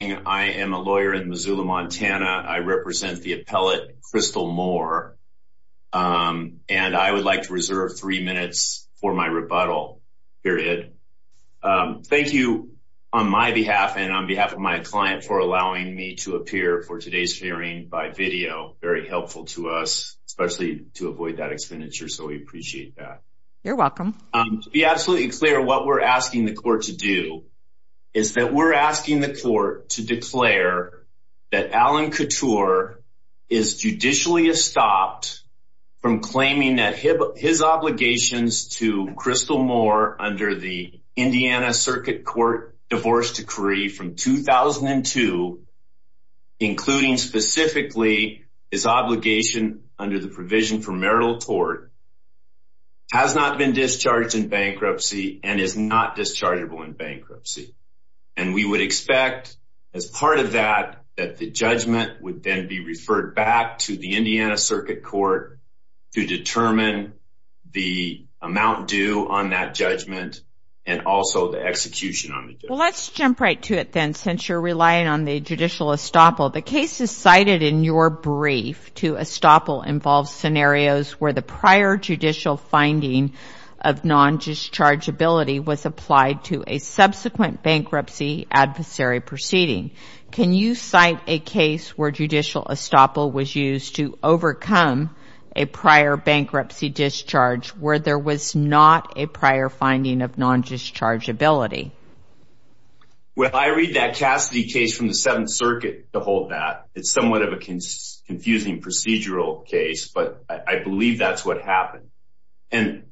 I am a lawyer in Missoula, Montana. I represent the appellate Crystal Moore, and I would like to reserve three minutes for my rebuttal, period. Thank you on my behalf and on behalf of my client for allowing me to appear for today's hearing by video. Very helpful to us, especially to avoid that expenditure, so we appreciate that. You're welcome. To be absolutely clear, what we're asking the court to do is that we're asking the court to declare that Alan Couture is judicially estopped from claiming that his obligations to Crystal Moore under the Indiana Circuit Court Divorce Decree from 2002, including specifically his obligation under the provision for marital tort, has not been discharged in bankruptcy and is not dischargeable in bankruptcy. And we would expect, as part of that, that the judgment would then be referred back to the Indiana Circuit Court to determine the amount due on that judgment and also the execution on the judgment. Well, let's jump right to it then, since you're relying on the judicial estoppel. The cases cited in your brief to estoppel involve scenarios where the prior judicial finding of non-dischargeability was applied to a subsequent bankruptcy adversary proceeding. Can you cite a case where judicial estoppel was used to overcome a prior bankruptcy discharge where there was not a prior finding of non-dischargeability? Well, I read that Cassidy case from the Seventh Circuit to hold that. It's somewhat of a confusing procedural case, but I believe that's what happened. And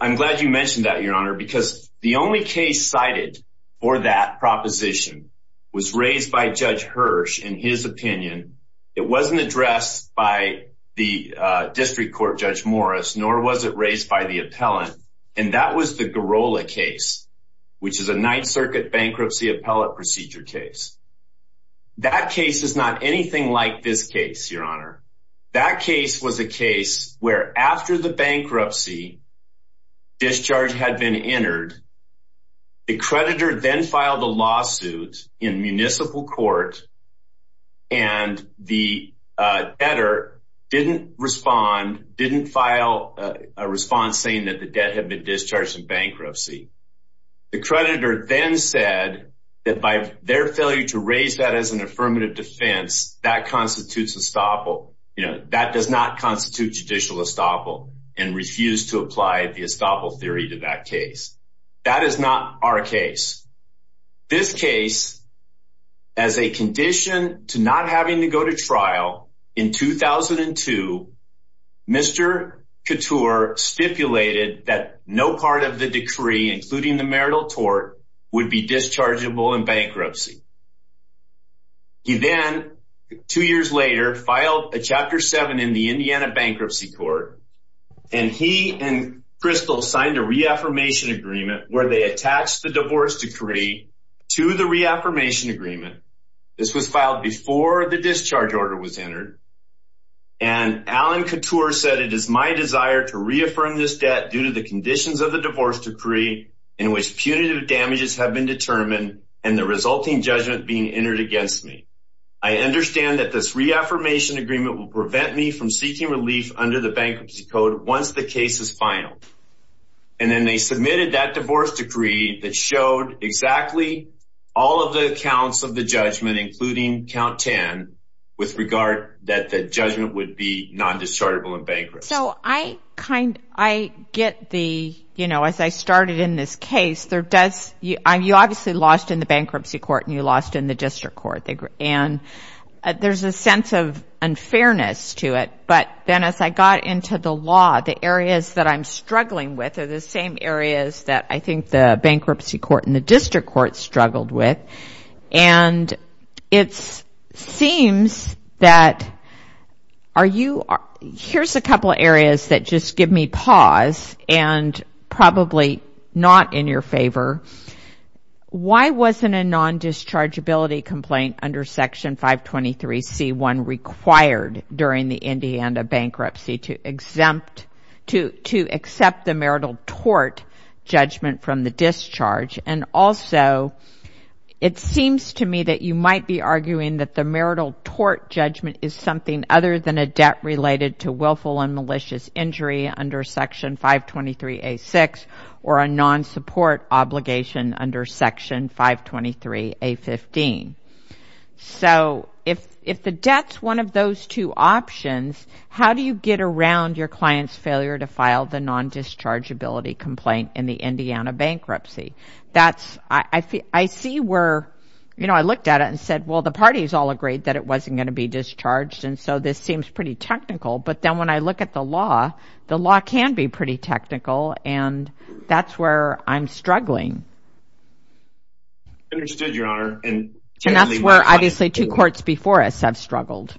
I'm glad you mentioned that, Your Honor, because the only case cited for that proposition was raised by Judge Hirsch in his opinion. It wasn't addressed by the District Court Judge Morris, nor was it raised by the appellant. And that was the Girola case, which is a Ninth Circuit bankruptcy appellate procedure case. That case is not anything like this case, Your Honor. That case was a case where after the bankruptcy discharge had been entered, the creditor then filed a lawsuit in municipal court and the debtor didn't respond, didn't file a response saying that the debt had been discharged in bankruptcy. The creditor then said that by their failure to raise that as an affirmative defense, that constitutes estoppel, that does not constitute judicial estoppel and refused to apply the estoppel theory to that case. That is not our case. This case, as a condition to not having to go to trial in 2002, Mr. Couture stipulated that no part of the decree, including the marital tort, would be dischargeable in bankruptcy. He then, two years later, filed a Chapter 7 in the Indiana Bankruptcy Court, and he and Crystal signed a reaffirmation agreement where they attached the divorce decree to the reaffirmation agreement. This was filed before the discharge order was entered. And Alan Couture said, it is my desire to reaffirm this debt due to the conditions of the divorce decree in which punitive damages have been determined and the resulting judgment being entered against me. I understand that this reaffirmation agreement will prevent me from seeking relief under the bankruptcy code once the case is filed. And then they submitted that divorce decree that showed exactly all of the accounts of the judgment, including count 10, with regard that the judgment would be non-dischargeable in bankruptcy. So I get the, you know, as I started in this case, there does, you obviously lost in the bankruptcy court and you lost in the district court. And there's a sense of unfairness to it. But then as I got into the law, the areas that I'm struggling with are the same areas that I think the bankruptcy court and the district court struggled with. And it seems that, are you, here's a couple of areas that just give me pause and probably not in your favor. Why wasn't a non-dischargeability complaint under section 523C1 required during the Indiana bankruptcy to exempt, to accept the marital tort judgment from the discharge? And also it seems to me that you might be arguing that the marital tort judgment is something other than a debt related to willful and malicious injury under section 523A6 or a non-support obligation under section 523A15. So if the debt's one of those two options, how do you get around your client's failure to file the non-dischargeability complaint in the Indiana bankruptcy? That's, I see where, you know, I looked at it and said, well, the parties all agreed that it wasn't going to be discharged. And so this seems pretty technical. But then when I look at the law, the law can be pretty technical. And that's where I'm struggling. Understood, Your Honor. And that's where obviously two courts before us have struggled.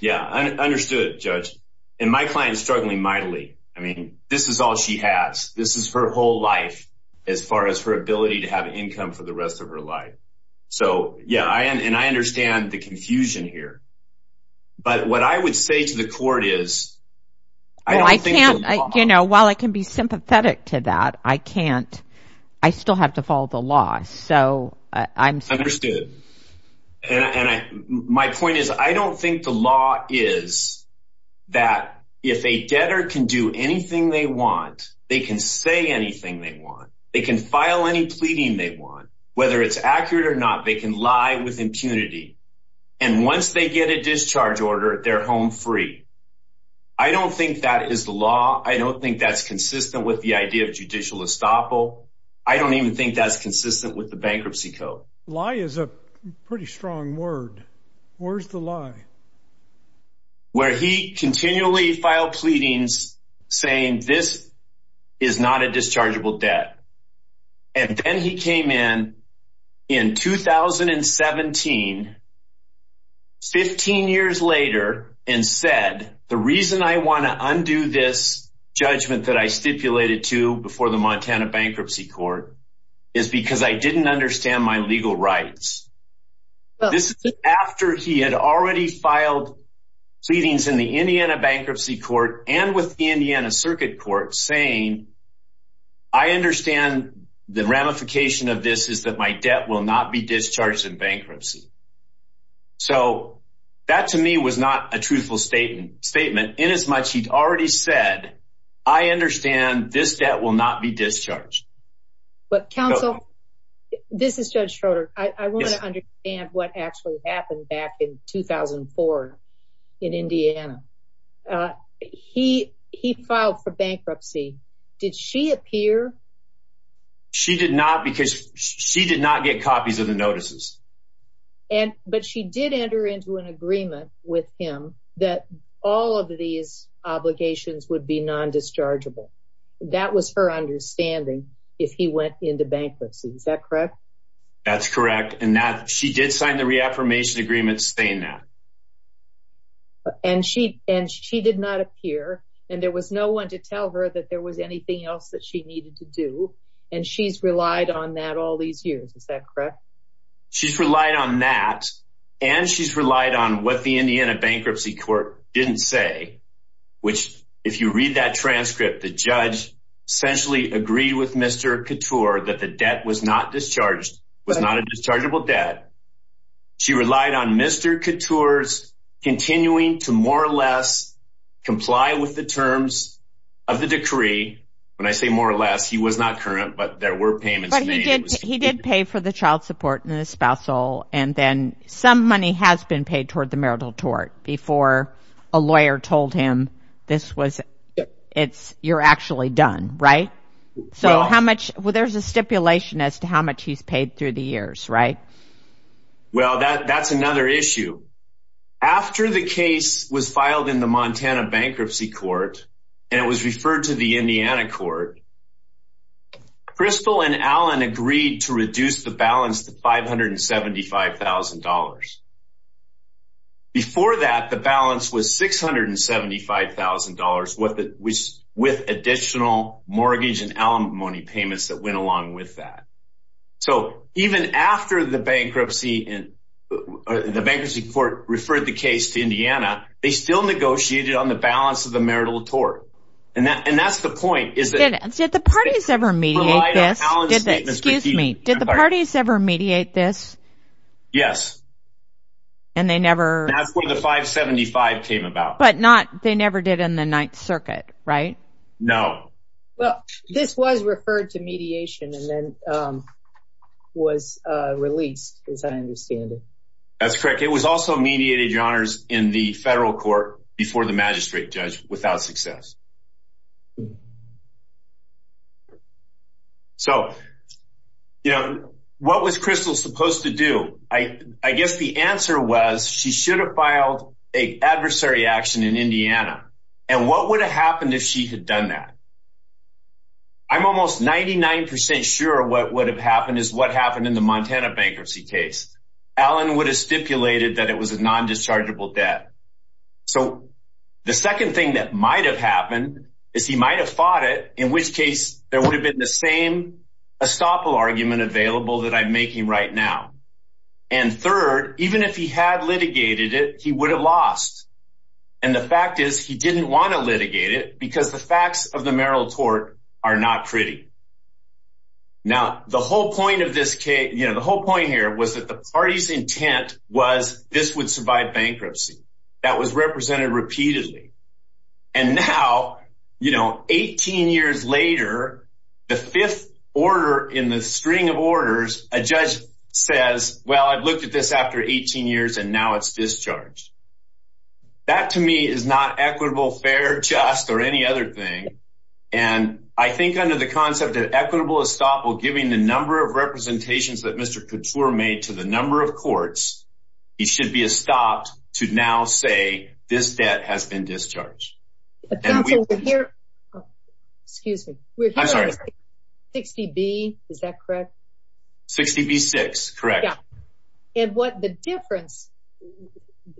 Yeah, understood, Judge. And my client is struggling mightily. I mean, this is all she has. This is her whole life as far as her ability to have income for the rest of her life. So yeah, and I understand the confusion here. But what I would say to the court is, I don't think that the law- Well, I can't, you know, while I can be sympathetic to that, I can't, I still have to follow the law. So I'm- Understood. And my point is, I don't think the law is that if a debtor can do anything they want, they can say anything they want. They can file any pleading they want. Whether it's accurate or not, they can lie with impunity. And once they get a discharge order, they're home free. I don't think that is the law. I don't think that's consistent with the idea of judicial estoppel. I don't even think that's consistent with the bankruptcy code. Lie is a pretty strong word. Where's the lie? Where he continually filed pleadings saying, this is not a dischargeable debt. And then he came in, in 2017, 15 years later, and said, the reason I want to undo this judgment that I stipulated to before the Montana Bankruptcy Court is because I didn't understand my legal rights. This is after he had already filed pleadings in the Indiana Bankruptcy Court and with the Indiana Circuit Court saying, I understand the ramification of this is that my debt will not be discharged in bankruptcy. So that to me was not a truthful statement in as much he'd already said, I understand this debt will not be discharged. But counsel, this is Judge Schroeder. I want to understand what actually happened back in 2004 in Indiana. He filed for bankruptcy. Did she appear? She did not because she did not get copies of the notices. But she did enter into an agreement with him that all of these obligations would be non-dischargeable. That was her understanding if he went into bankruptcy. Is that correct? That's correct. And she did sign the reaffirmation agreement saying that. And she did not appear. And there was no one to tell her that there was anything else that she needed to do. And she's relied on that all these years. Is that correct? She's relied on that. And she's relied on what the Indiana Bankruptcy Court didn't say, which if you read that transcript, the judge essentially agreed with Mr. Couture that the debt was not discharged, was not a dischargeable debt. She relied on Mr. Couture's continuing to more or less comply with the terms of the decree. When I say more or less, he was not current, but there were payments made. He did pay for the child support and the spousal. And then some money has been paid toward the marital tort before a lawyer told him this was, it's, you're actually done, right? So how much, well, there's a stipulation as to how much he's paid through the years, right? Well, that's another issue. After the case was filed in the Montana Bankruptcy Court, and it was referred to the Indiana court, Crystal and Alan agreed to reduce the balance to $575,000. Before that, the balance was $675,000 with additional mortgage and alimony payments that went along with that. So even after the bankruptcy court referred the case to Indiana, they still negotiated on the balance of the marital tort. And that's the point is that- Did the parties ever mediate this? Excuse me, did the parties ever mediate this? Yes. And they never- That's where the $575,000 came about. But not, they never did in the Ninth Circuit, right? No. Well, this was referred to mediation and then was released, as I understand it. That's correct. It was also mediated, Your Honors, in the federal court before the magistrate judge without success. So, you know, what was Crystal supposed to do? I guess the answer was she should have filed a adversary action in Indiana. And what would have happened if she had done that? I'm almost 99% sure what would have happened is what happened in the Montana bankruptcy case. Alan would have stipulated that it was a non-dischargeable debt. So the second thing that might have happened is he might have fought it, in which case there would have been the same estoppel argument available that I'm making right now. And third, even if he had litigated it, he would have lost. And the fact is he didn't want to litigate it because the facts of the Merrill tort are not pretty. Now, the whole point here was that the party's intent was this would survive bankruptcy. That was represented repeatedly. And now, you know, 18 years later, the fifth order in the string of orders, a judge says, well, I've looked at this after 18 years and now it's discharged. That to me is not equitable, fair, just, or any other thing. And I think under the concept of equitable estoppel, giving the number of representations that Mr. Couture made to the number of courts, he should be estopped to now say this debt has been discharged. Excuse me. I'm sorry. 60B, is that correct? 60B-6, correct. And what the difference,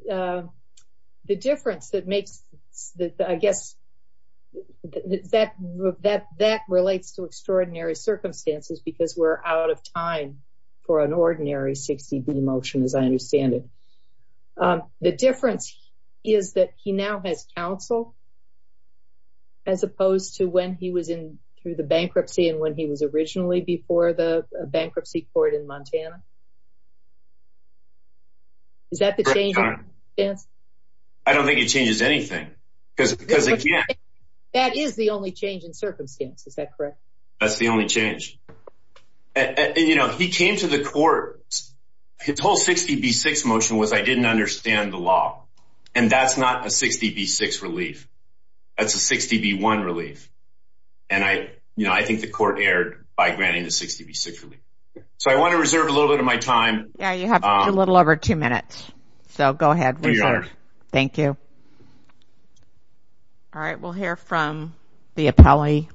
the difference that makes, I guess that relates to extraordinary circumstances because we're out of time for an ordinary 60B motion as I understand it. The difference is that he now has counsel as opposed to when he was in through the bankruptcy and when he was originally before the bankruptcy court in Montana. Is that the change in circumstance? I don't think it changes anything because again- That is the only change in circumstance. Is that correct? That's the only change. And he came to the court, his whole 60B-6 motion was I didn't understand the law. And that's not a 60B-6 relief. That's a 60B-1 relief. And I think the court erred by granting the 60B-6 relief. So I want to reserve a little bit of my time. Yeah, you have a little over two minutes. So go ahead. Thank you. All right, we'll hear from the appellee.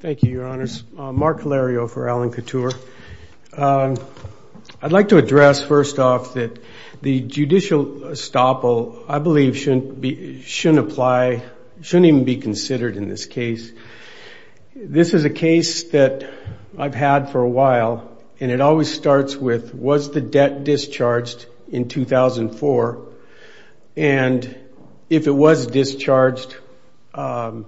Thank you, your honors. Mark Lario for Alan Couture. I'd like to address first off that the judicial estoppel, I believe shouldn't apply, shouldn't even be considered in this case. This is a case that I've had for a while and it always starts with, was the debt discharged in 2004? And if it was discharged, what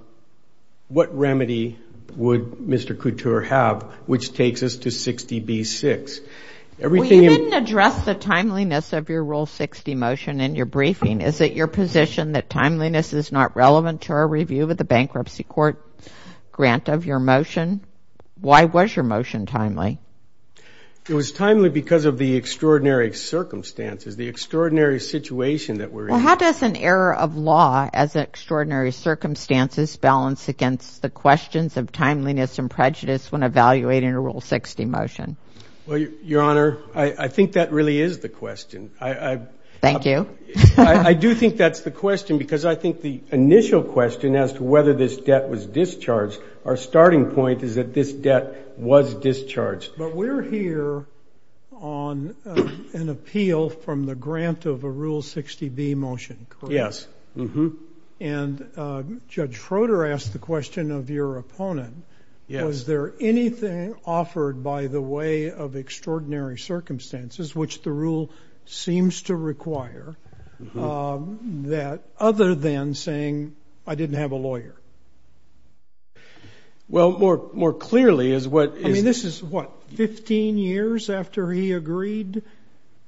remedy would Mr. Couture have, which takes us to 60B-6? Everything- Well, you didn't address the timeliness of your Rule 60 motion in your briefing. Is it your position that timeliness is not relevant to our review of the bankruptcy court grant of your motion? Why was your motion timely? It was timely because of the extraordinary circumstances, the extraordinary situation that we're in. Well, how does an error of law as extraordinary circumstances balance against the questions of timeliness and prejudice when evaluating a Rule 60 motion? Well, Your Honor, I think that really is the question. Thank you. I do think that's the question because I think the initial question as to whether this debt was discharged, our starting point is that this debt was discharged. But we're here on an appeal from the grant of a Rule 60B motion, correct? Yes. And Judge Froder asked the question of your opponent, was there anything offered by the way of extraordinary circumstances, which the Rule seems to require, that other than saying, I didn't have a lawyer? Well, more clearly is what- I mean, this is what, 15 years after he agreed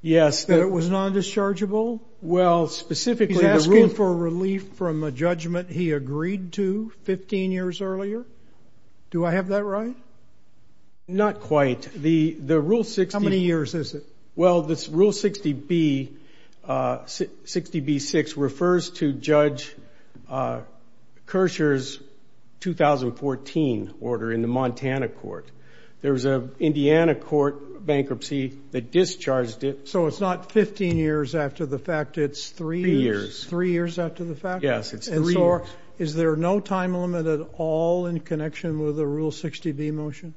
that it was non-dischargeable? Well, specifically- He's asking for relief from a judgment he agreed to 15 years earlier? Do I have that right? Not quite. The Rule 60- How many years is it? Well, this Rule 60B, 60B-6, refers to Judge Kershaw's 2014 order in the Montana court. There was a Indiana court bankruptcy that discharged it. So it's not 15 years after the fact, it's three years- Three years. Three years after the fact? Yes, it's three years. And so is there no time limit at all in connection with the Rule 60B motion?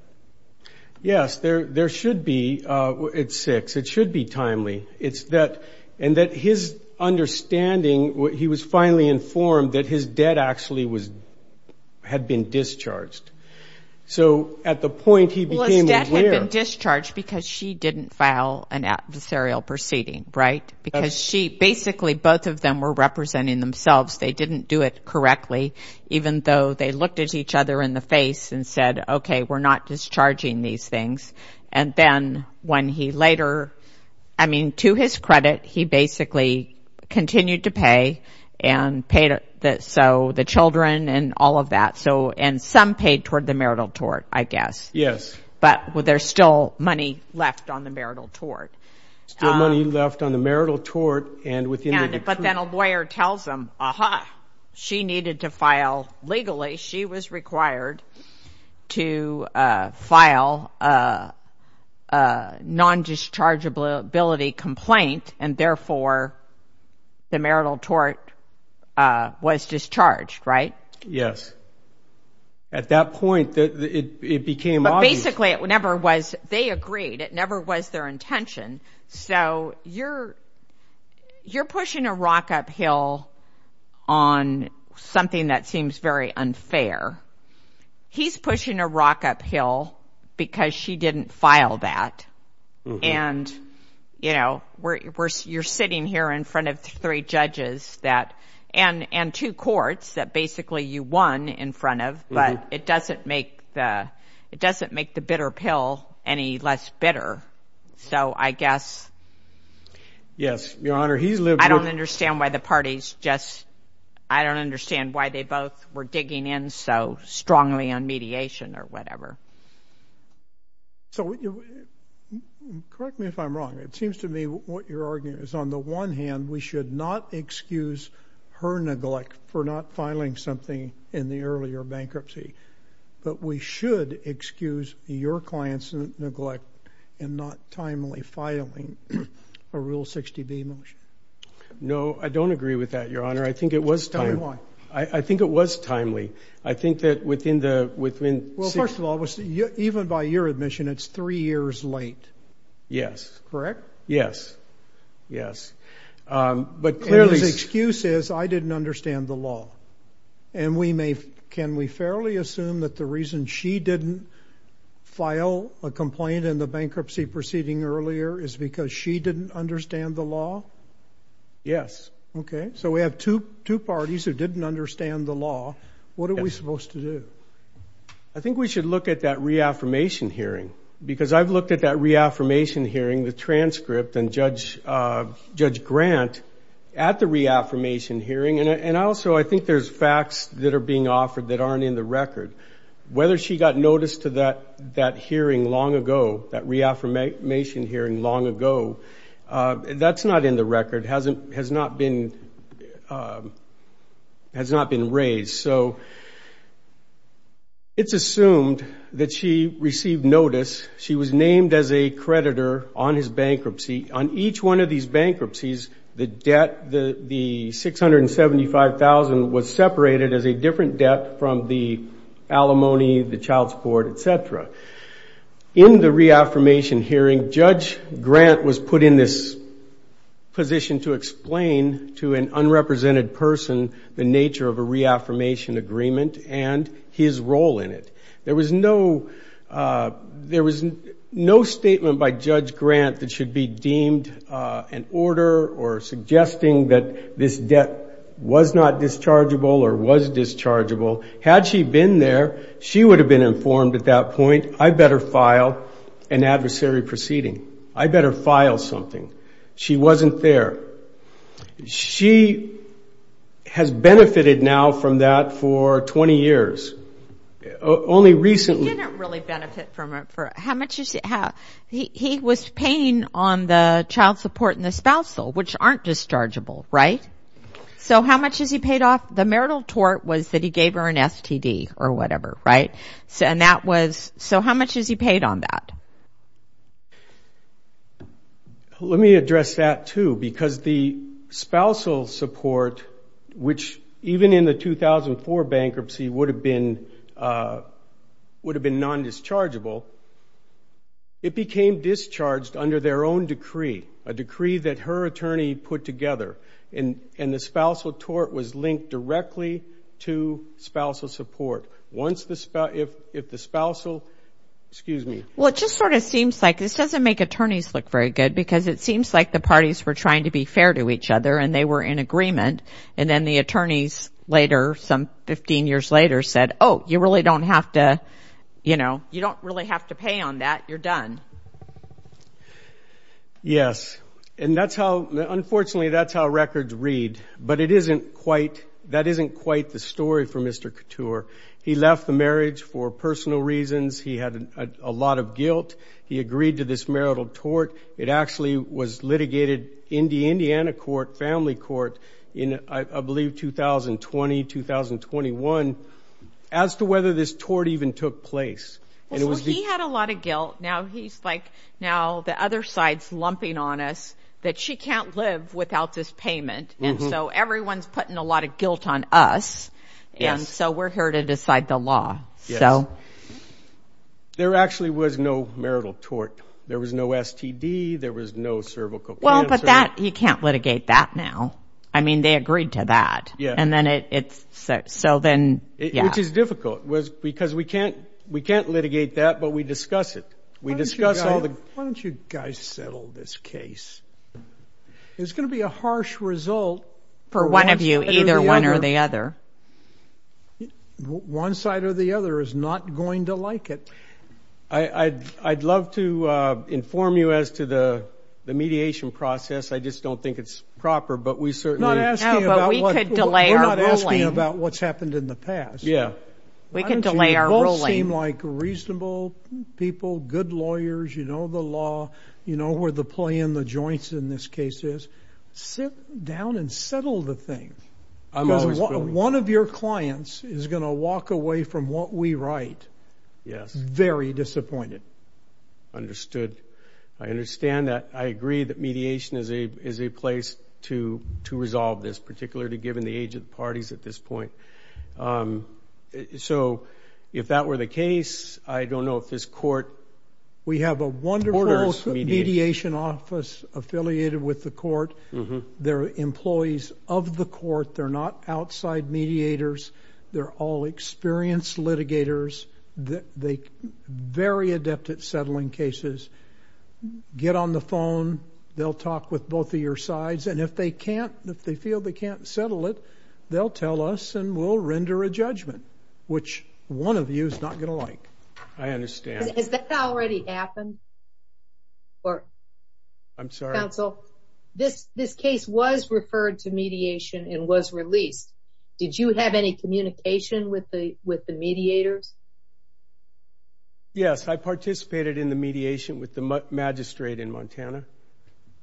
Yes, there should be. It's six. It should be timely. It's that, and that his understanding, he was finally informed that his debt actually was, had been discharged. So at the point he became aware- Well, his debt had been discharged because she didn't file an adversarial proceeding, right? Because she, basically, both of them were representing themselves. They didn't do it correctly, even though they looked at each other in the face and said, okay, we're not discharging these things. And then when he later, I mean, to his credit, he basically continued to pay and paid, so the children and all of that. So, and some paid toward the marital tort, I guess. Yes. But there's still money left on the marital tort. Still money left on the marital tort, and within the decree- But then a lawyer tells him, aha, she needed to file, legally, she was required to file a non-dischargeability complaint, and therefore, the marital tort was discharged, right? Yes. At that point, it became obvious- But basically, it never was, they agreed. It never was their intention. So, you're pushing a rock uphill on something that seems very unfair. He's pushing a rock uphill because she didn't file that. And, you know, you're sitting here in front of three judges that, and two courts that basically you won in front of, but it doesn't make the bitter pill any less bitter. So, I guess- Yes, Your Honor, he's lived with- I don't understand why the parties just, I don't understand why they both were digging in so strongly on mediation or whatever. So, correct me if I'm wrong, it seems to me what you're arguing is, on the one hand, we should not excuse her neglect for not filing something in the earlier bankruptcy, but we should excuse your client's neglect in not timely filing a Rule 60B motion. No, I don't agree with that, Your Honor. I think it was timely. Tell me why. I think it was timely. I think that within the- Well, first of all, even by your admission, it's three years late. Yes. Correct? Yes, yes. But clearly- And his excuse is, I didn't understand the law. And can we fairly assume that the reason she didn't file a complaint in the bankruptcy proceeding earlier is because she didn't understand the law? Yes. Okay, so we have two parties who didn't understand the law. What are we supposed to do? I think we should look at that reaffirmation hearing because I've looked at that reaffirmation hearing, the transcript, and Judge Grant at the reaffirmation hearing. And also, I think there's facts that are being offered that aren't in the record. Whether she got notice to that hearing long ago, that reaffirmation hearing long ago, that's not in the record, has not been raised. So it's assumed that she received notice. She was named as a creditor on his bankruptcy. On each one of these bankruptcies, the debt, the 675,000 was separated as a different debt from the alimony, the child support, et cetera. In the reaffirmation hearing, Judge Grant was put in this position to explain to an unrepresented person the nature of a reaffirmation agreement and his role in it. There was no statement by Judge Grant that should be deemed an order or suggesting that this debt was not dischargeable or was dischargeable. Had she been there, she would have been informed at that point, I better file an adversary proceeding. I better file something. She wasn't there. She has benefited now from that for 20 years. Only recently- He didn't really benefit from it for, how much you see, he was paying on the child support and the spousal, which aren't dischargeable, right? So how much has he paid off? The marital tort was that he gave her an STD or whatever, right? So how much has he paid on that? Let me address that too, because the spousal support, which even in the 2004 bankruptcy would have been non-dischargeable, it became discharged under their own decree, a decree that her attorney put together. And the spousal tort was linked directly to spousal support. Once the spouse, if the spousal, excuse me. Well, it just sort of seems like, this doesn't make attorneys look very good because it seems like the parties were trying to be fair to each other and they were in agreement. And then the attorneys later, some 15 years later said, oh, you really don't have to, you know, you don't really have to pay on that, you're done. Yes. And that's how, unfortunately that's how records read, but it isn't quite, that isn't quite the story for Mr. Couture. He left the marriage for personal reasons. He had a lot of guilt. He agreed to this marital tort. It actually was litigated in the Indiana court, family court, in I believe 2020, 2021, as to whether this tort even took place. And it was- Well, he had a lot of guilt. Now he's like, now the other side's lumping on us that she can't live without this payment. And so everyone's putting a lot of guilt on us. And so we're here to decide the law. So. There actually was no marital tort. There was no STD. There was no cervical cancer. Well, but that, you can't litigate that now. I mean, they agreed to that. Yeah. And then it's, so then, yeah. Which is difficult, because we can't, we can't litigate that, but we discuss it. We discuss all the- It's going to be a harsh result- For one of you, either one or the other. One side or the other is not going to like it. I'd love to inform you as to the mediation process. I just don't think it's proper, but we certainly- Not asking about what- No, but we could delay our ruling. We're not asking about what's happened in the past. Yeah. We can delay our ruling. Why don't you both seem like reasonable people, good lawyers, you know the law, you know where the play in, in the joints in this case is. Sit down and settle the thing. I've always been- Because one of your clients is going to walk away from what we write. Yes. Very disappointed. Understood. I understand that. I agree that mediation is a place to resolve this, particularly given the age of the parties at this point. I don't know if this court- We have a wonderful- Orders mediation. We have a mediation office affiliated with the court. They're employees of the court. They're not outside mediators. They're all experienced litigators. They're very adept at settling cases. Get on the phone. They'll talk with both of your sides. And if they can't, if they feel they can't settle it, they'll tell us and we'll render a judgment, which one of you is not going to like. I understand. Has that already happened? I'm sorry. Counsel, this case was referred to mediation and was released. Did you have any communication with the mediators? Yes, I participated in the mediation with the magistrate in Montana.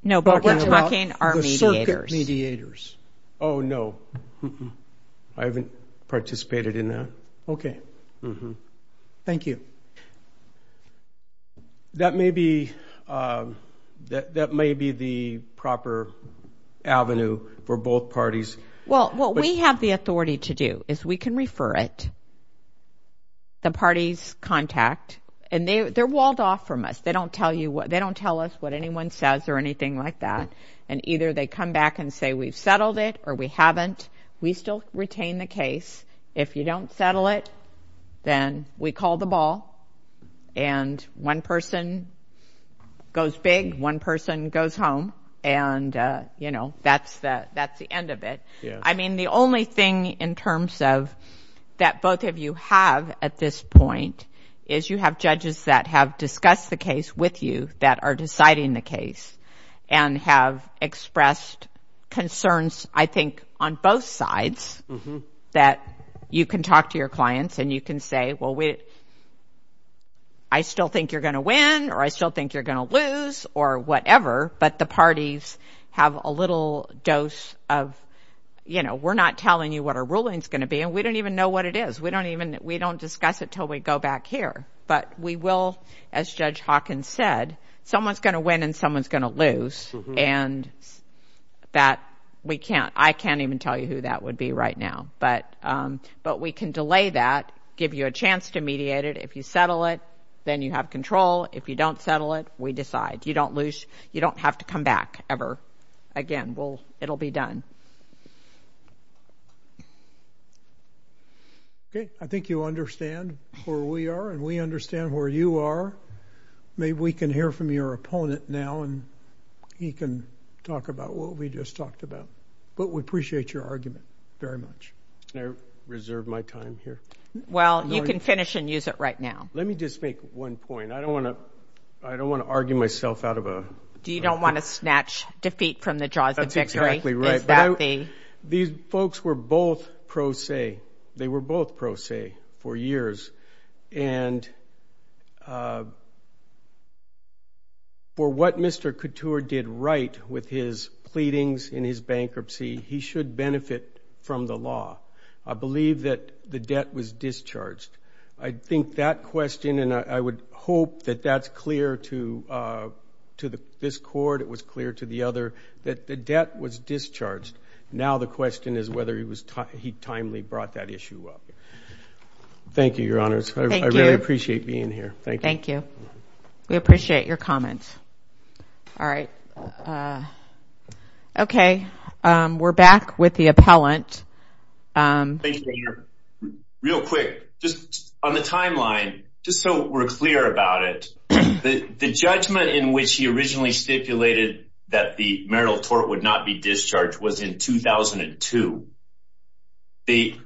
No, but what about- Talking about- The circuit mediators. The circuit mediators. Oh, no, I haven't participated in that. Okay. Mm-hmm. Thank you. That may be the proper avenue for both parties. Well, what we have the authority to do is we can refer it, the party's contact, and they're walled off from us. They don't tell us what anyone says or anything like that. And either they come back and say, we've settled it or we haven't. We still retain the case. If you don't settle it, then we call the ball and one person goes big, one person goes home, and that's the end of it. I mean, the only thing in terms of that both of you have at this point is you have judges that have discussed the case with you that are deciding the case and have expressed concerns, I think, on both sides that you can talk to your clients and you can say, well, I still think you're gonna win or I still think you're gonna lose or whatever, but the parties have a little dose of, you know, we're not telling you what our ruling's gonna be and we don't even know what it is. We don't discuss it till we go back here. But we will, as Judge Hawkins said, someone's gonna win and someone's gonna lose and that we can't, I can't even tell you who that would be right now, but we can delay that, give you a chance to mediate it. If you settle it, then you have control. If you don't settle it, we decide. You don't lose, you don't have to come back ever again. It'll be done. Okay, I think you understand where we are and we understand where you are. Maybe we can hear from your opponent now and he can talk about what we just talked about. But we appreciate your argument very much. Can I reserve my time here? Well, you can finish and use it right now. Let me just make one point. I don't wanna, I don't wanna argue myself out of a- Do you don't wanna snatch defeat from the jaws of victory? That's exactly right. Is that the- These folks were both pro se. They were both pro se for years. And for what Mr. Couture did right with his pleadings in his bankruptcy, he should benefit from the law. I believe that the debt was discharged. I think that question, and I would hope that that's clear to this court, it was clear to the other, that the debt was discharged. Now the question is whether he was, he timely brought that issue up. Thank you, your honors. Thank you. I really appreciate being here. Thank you. Thank you. We appreciate your comments. All right. Okay. We're back with the appellant. Thank you, your honor. Real quick, just on the timeline, just so we're clear about it, the judgment in which he originally stipulated that the marital tort would not be discharged was in 2002. He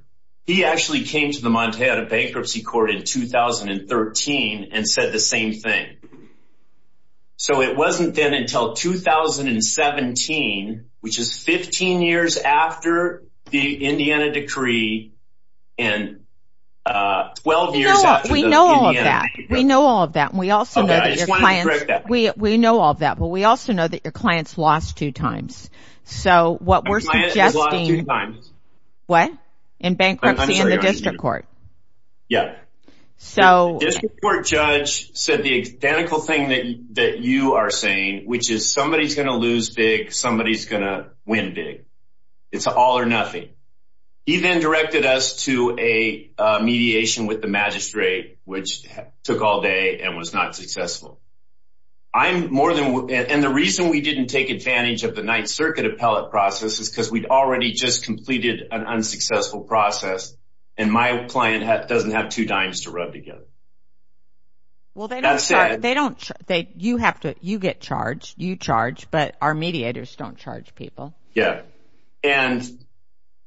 actually came to the Montana bankruptcy court in 2013 and said the same thing. So it wasn't then until 2017, which is 15 years after the Indiana decree and 12 years after the Indiana- No, we know all of that. We know all of that. And we also know that your clients- Okay, I just wanted to correct that. We know all of that, but we also know that your client's lost two times. So what we're suggesting- My client was lost two times. What? In bankruptcy in the district court. Yeah. So- So the identical thing that you are saying, which is somebody's going to lose big, somebody's going to win big. It's all or nothing. He then directed us to a mediation with the magistrate, which took all day and was not successful. I'm more than- And the reason we didn't take advantage of the Ninth Circuit appellate process is because we'd already just completed an unsuccessful process. And my client doesn't have two dimes to rub together. Well, they don't- That said- They don't, you have to, you get charged. You charge, but our mediators don't charge people. Yeah. And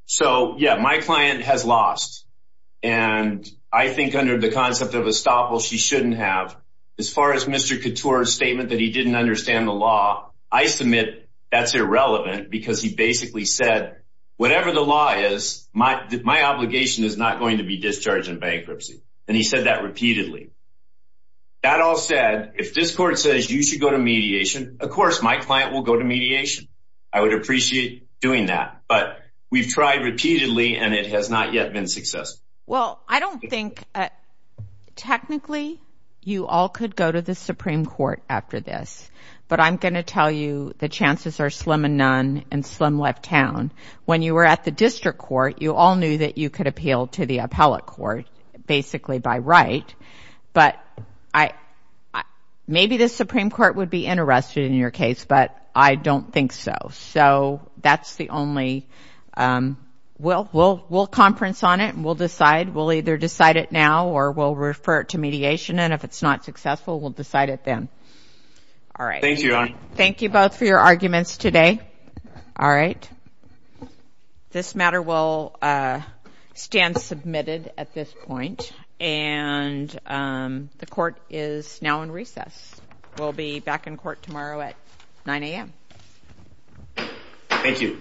so, yeah, my client has lost. And I think under the concept of estoppel, she shouldn't have. As far as Mr. Couture's statement that he didn't understand the law, I submit that's irrelevant because he basically said, whatever the law is, my obligation is not going to be discharged in bankruptcy. And he said that repeatedly. That all said, if this court says you should go to mediation, of course, my client will go to mediation. I would appreciate doing that, but we've tried repeatedly and it has not yet been successful. Well, I don't think, technically, you all could go to the Supreme Court after this, but I'm gonna tell you the chances are slim and none and slim left town. When you were at the district court, you all knew that you could appeal to the appellate court basically by right, but maybe the Supreme Court would be interested in your case, but I don't think so. So that's the only, we'll conference on it and we'll decide. We'll either decide it now or we'll refer it to mediation. And if it's not successful, we'll decide it then. All right. Thank you both for your arguments today. All right. This matter will stand submitted at this point and the court is now in recess. We'll be back in court tomorrow at 9 a.m. Thank you.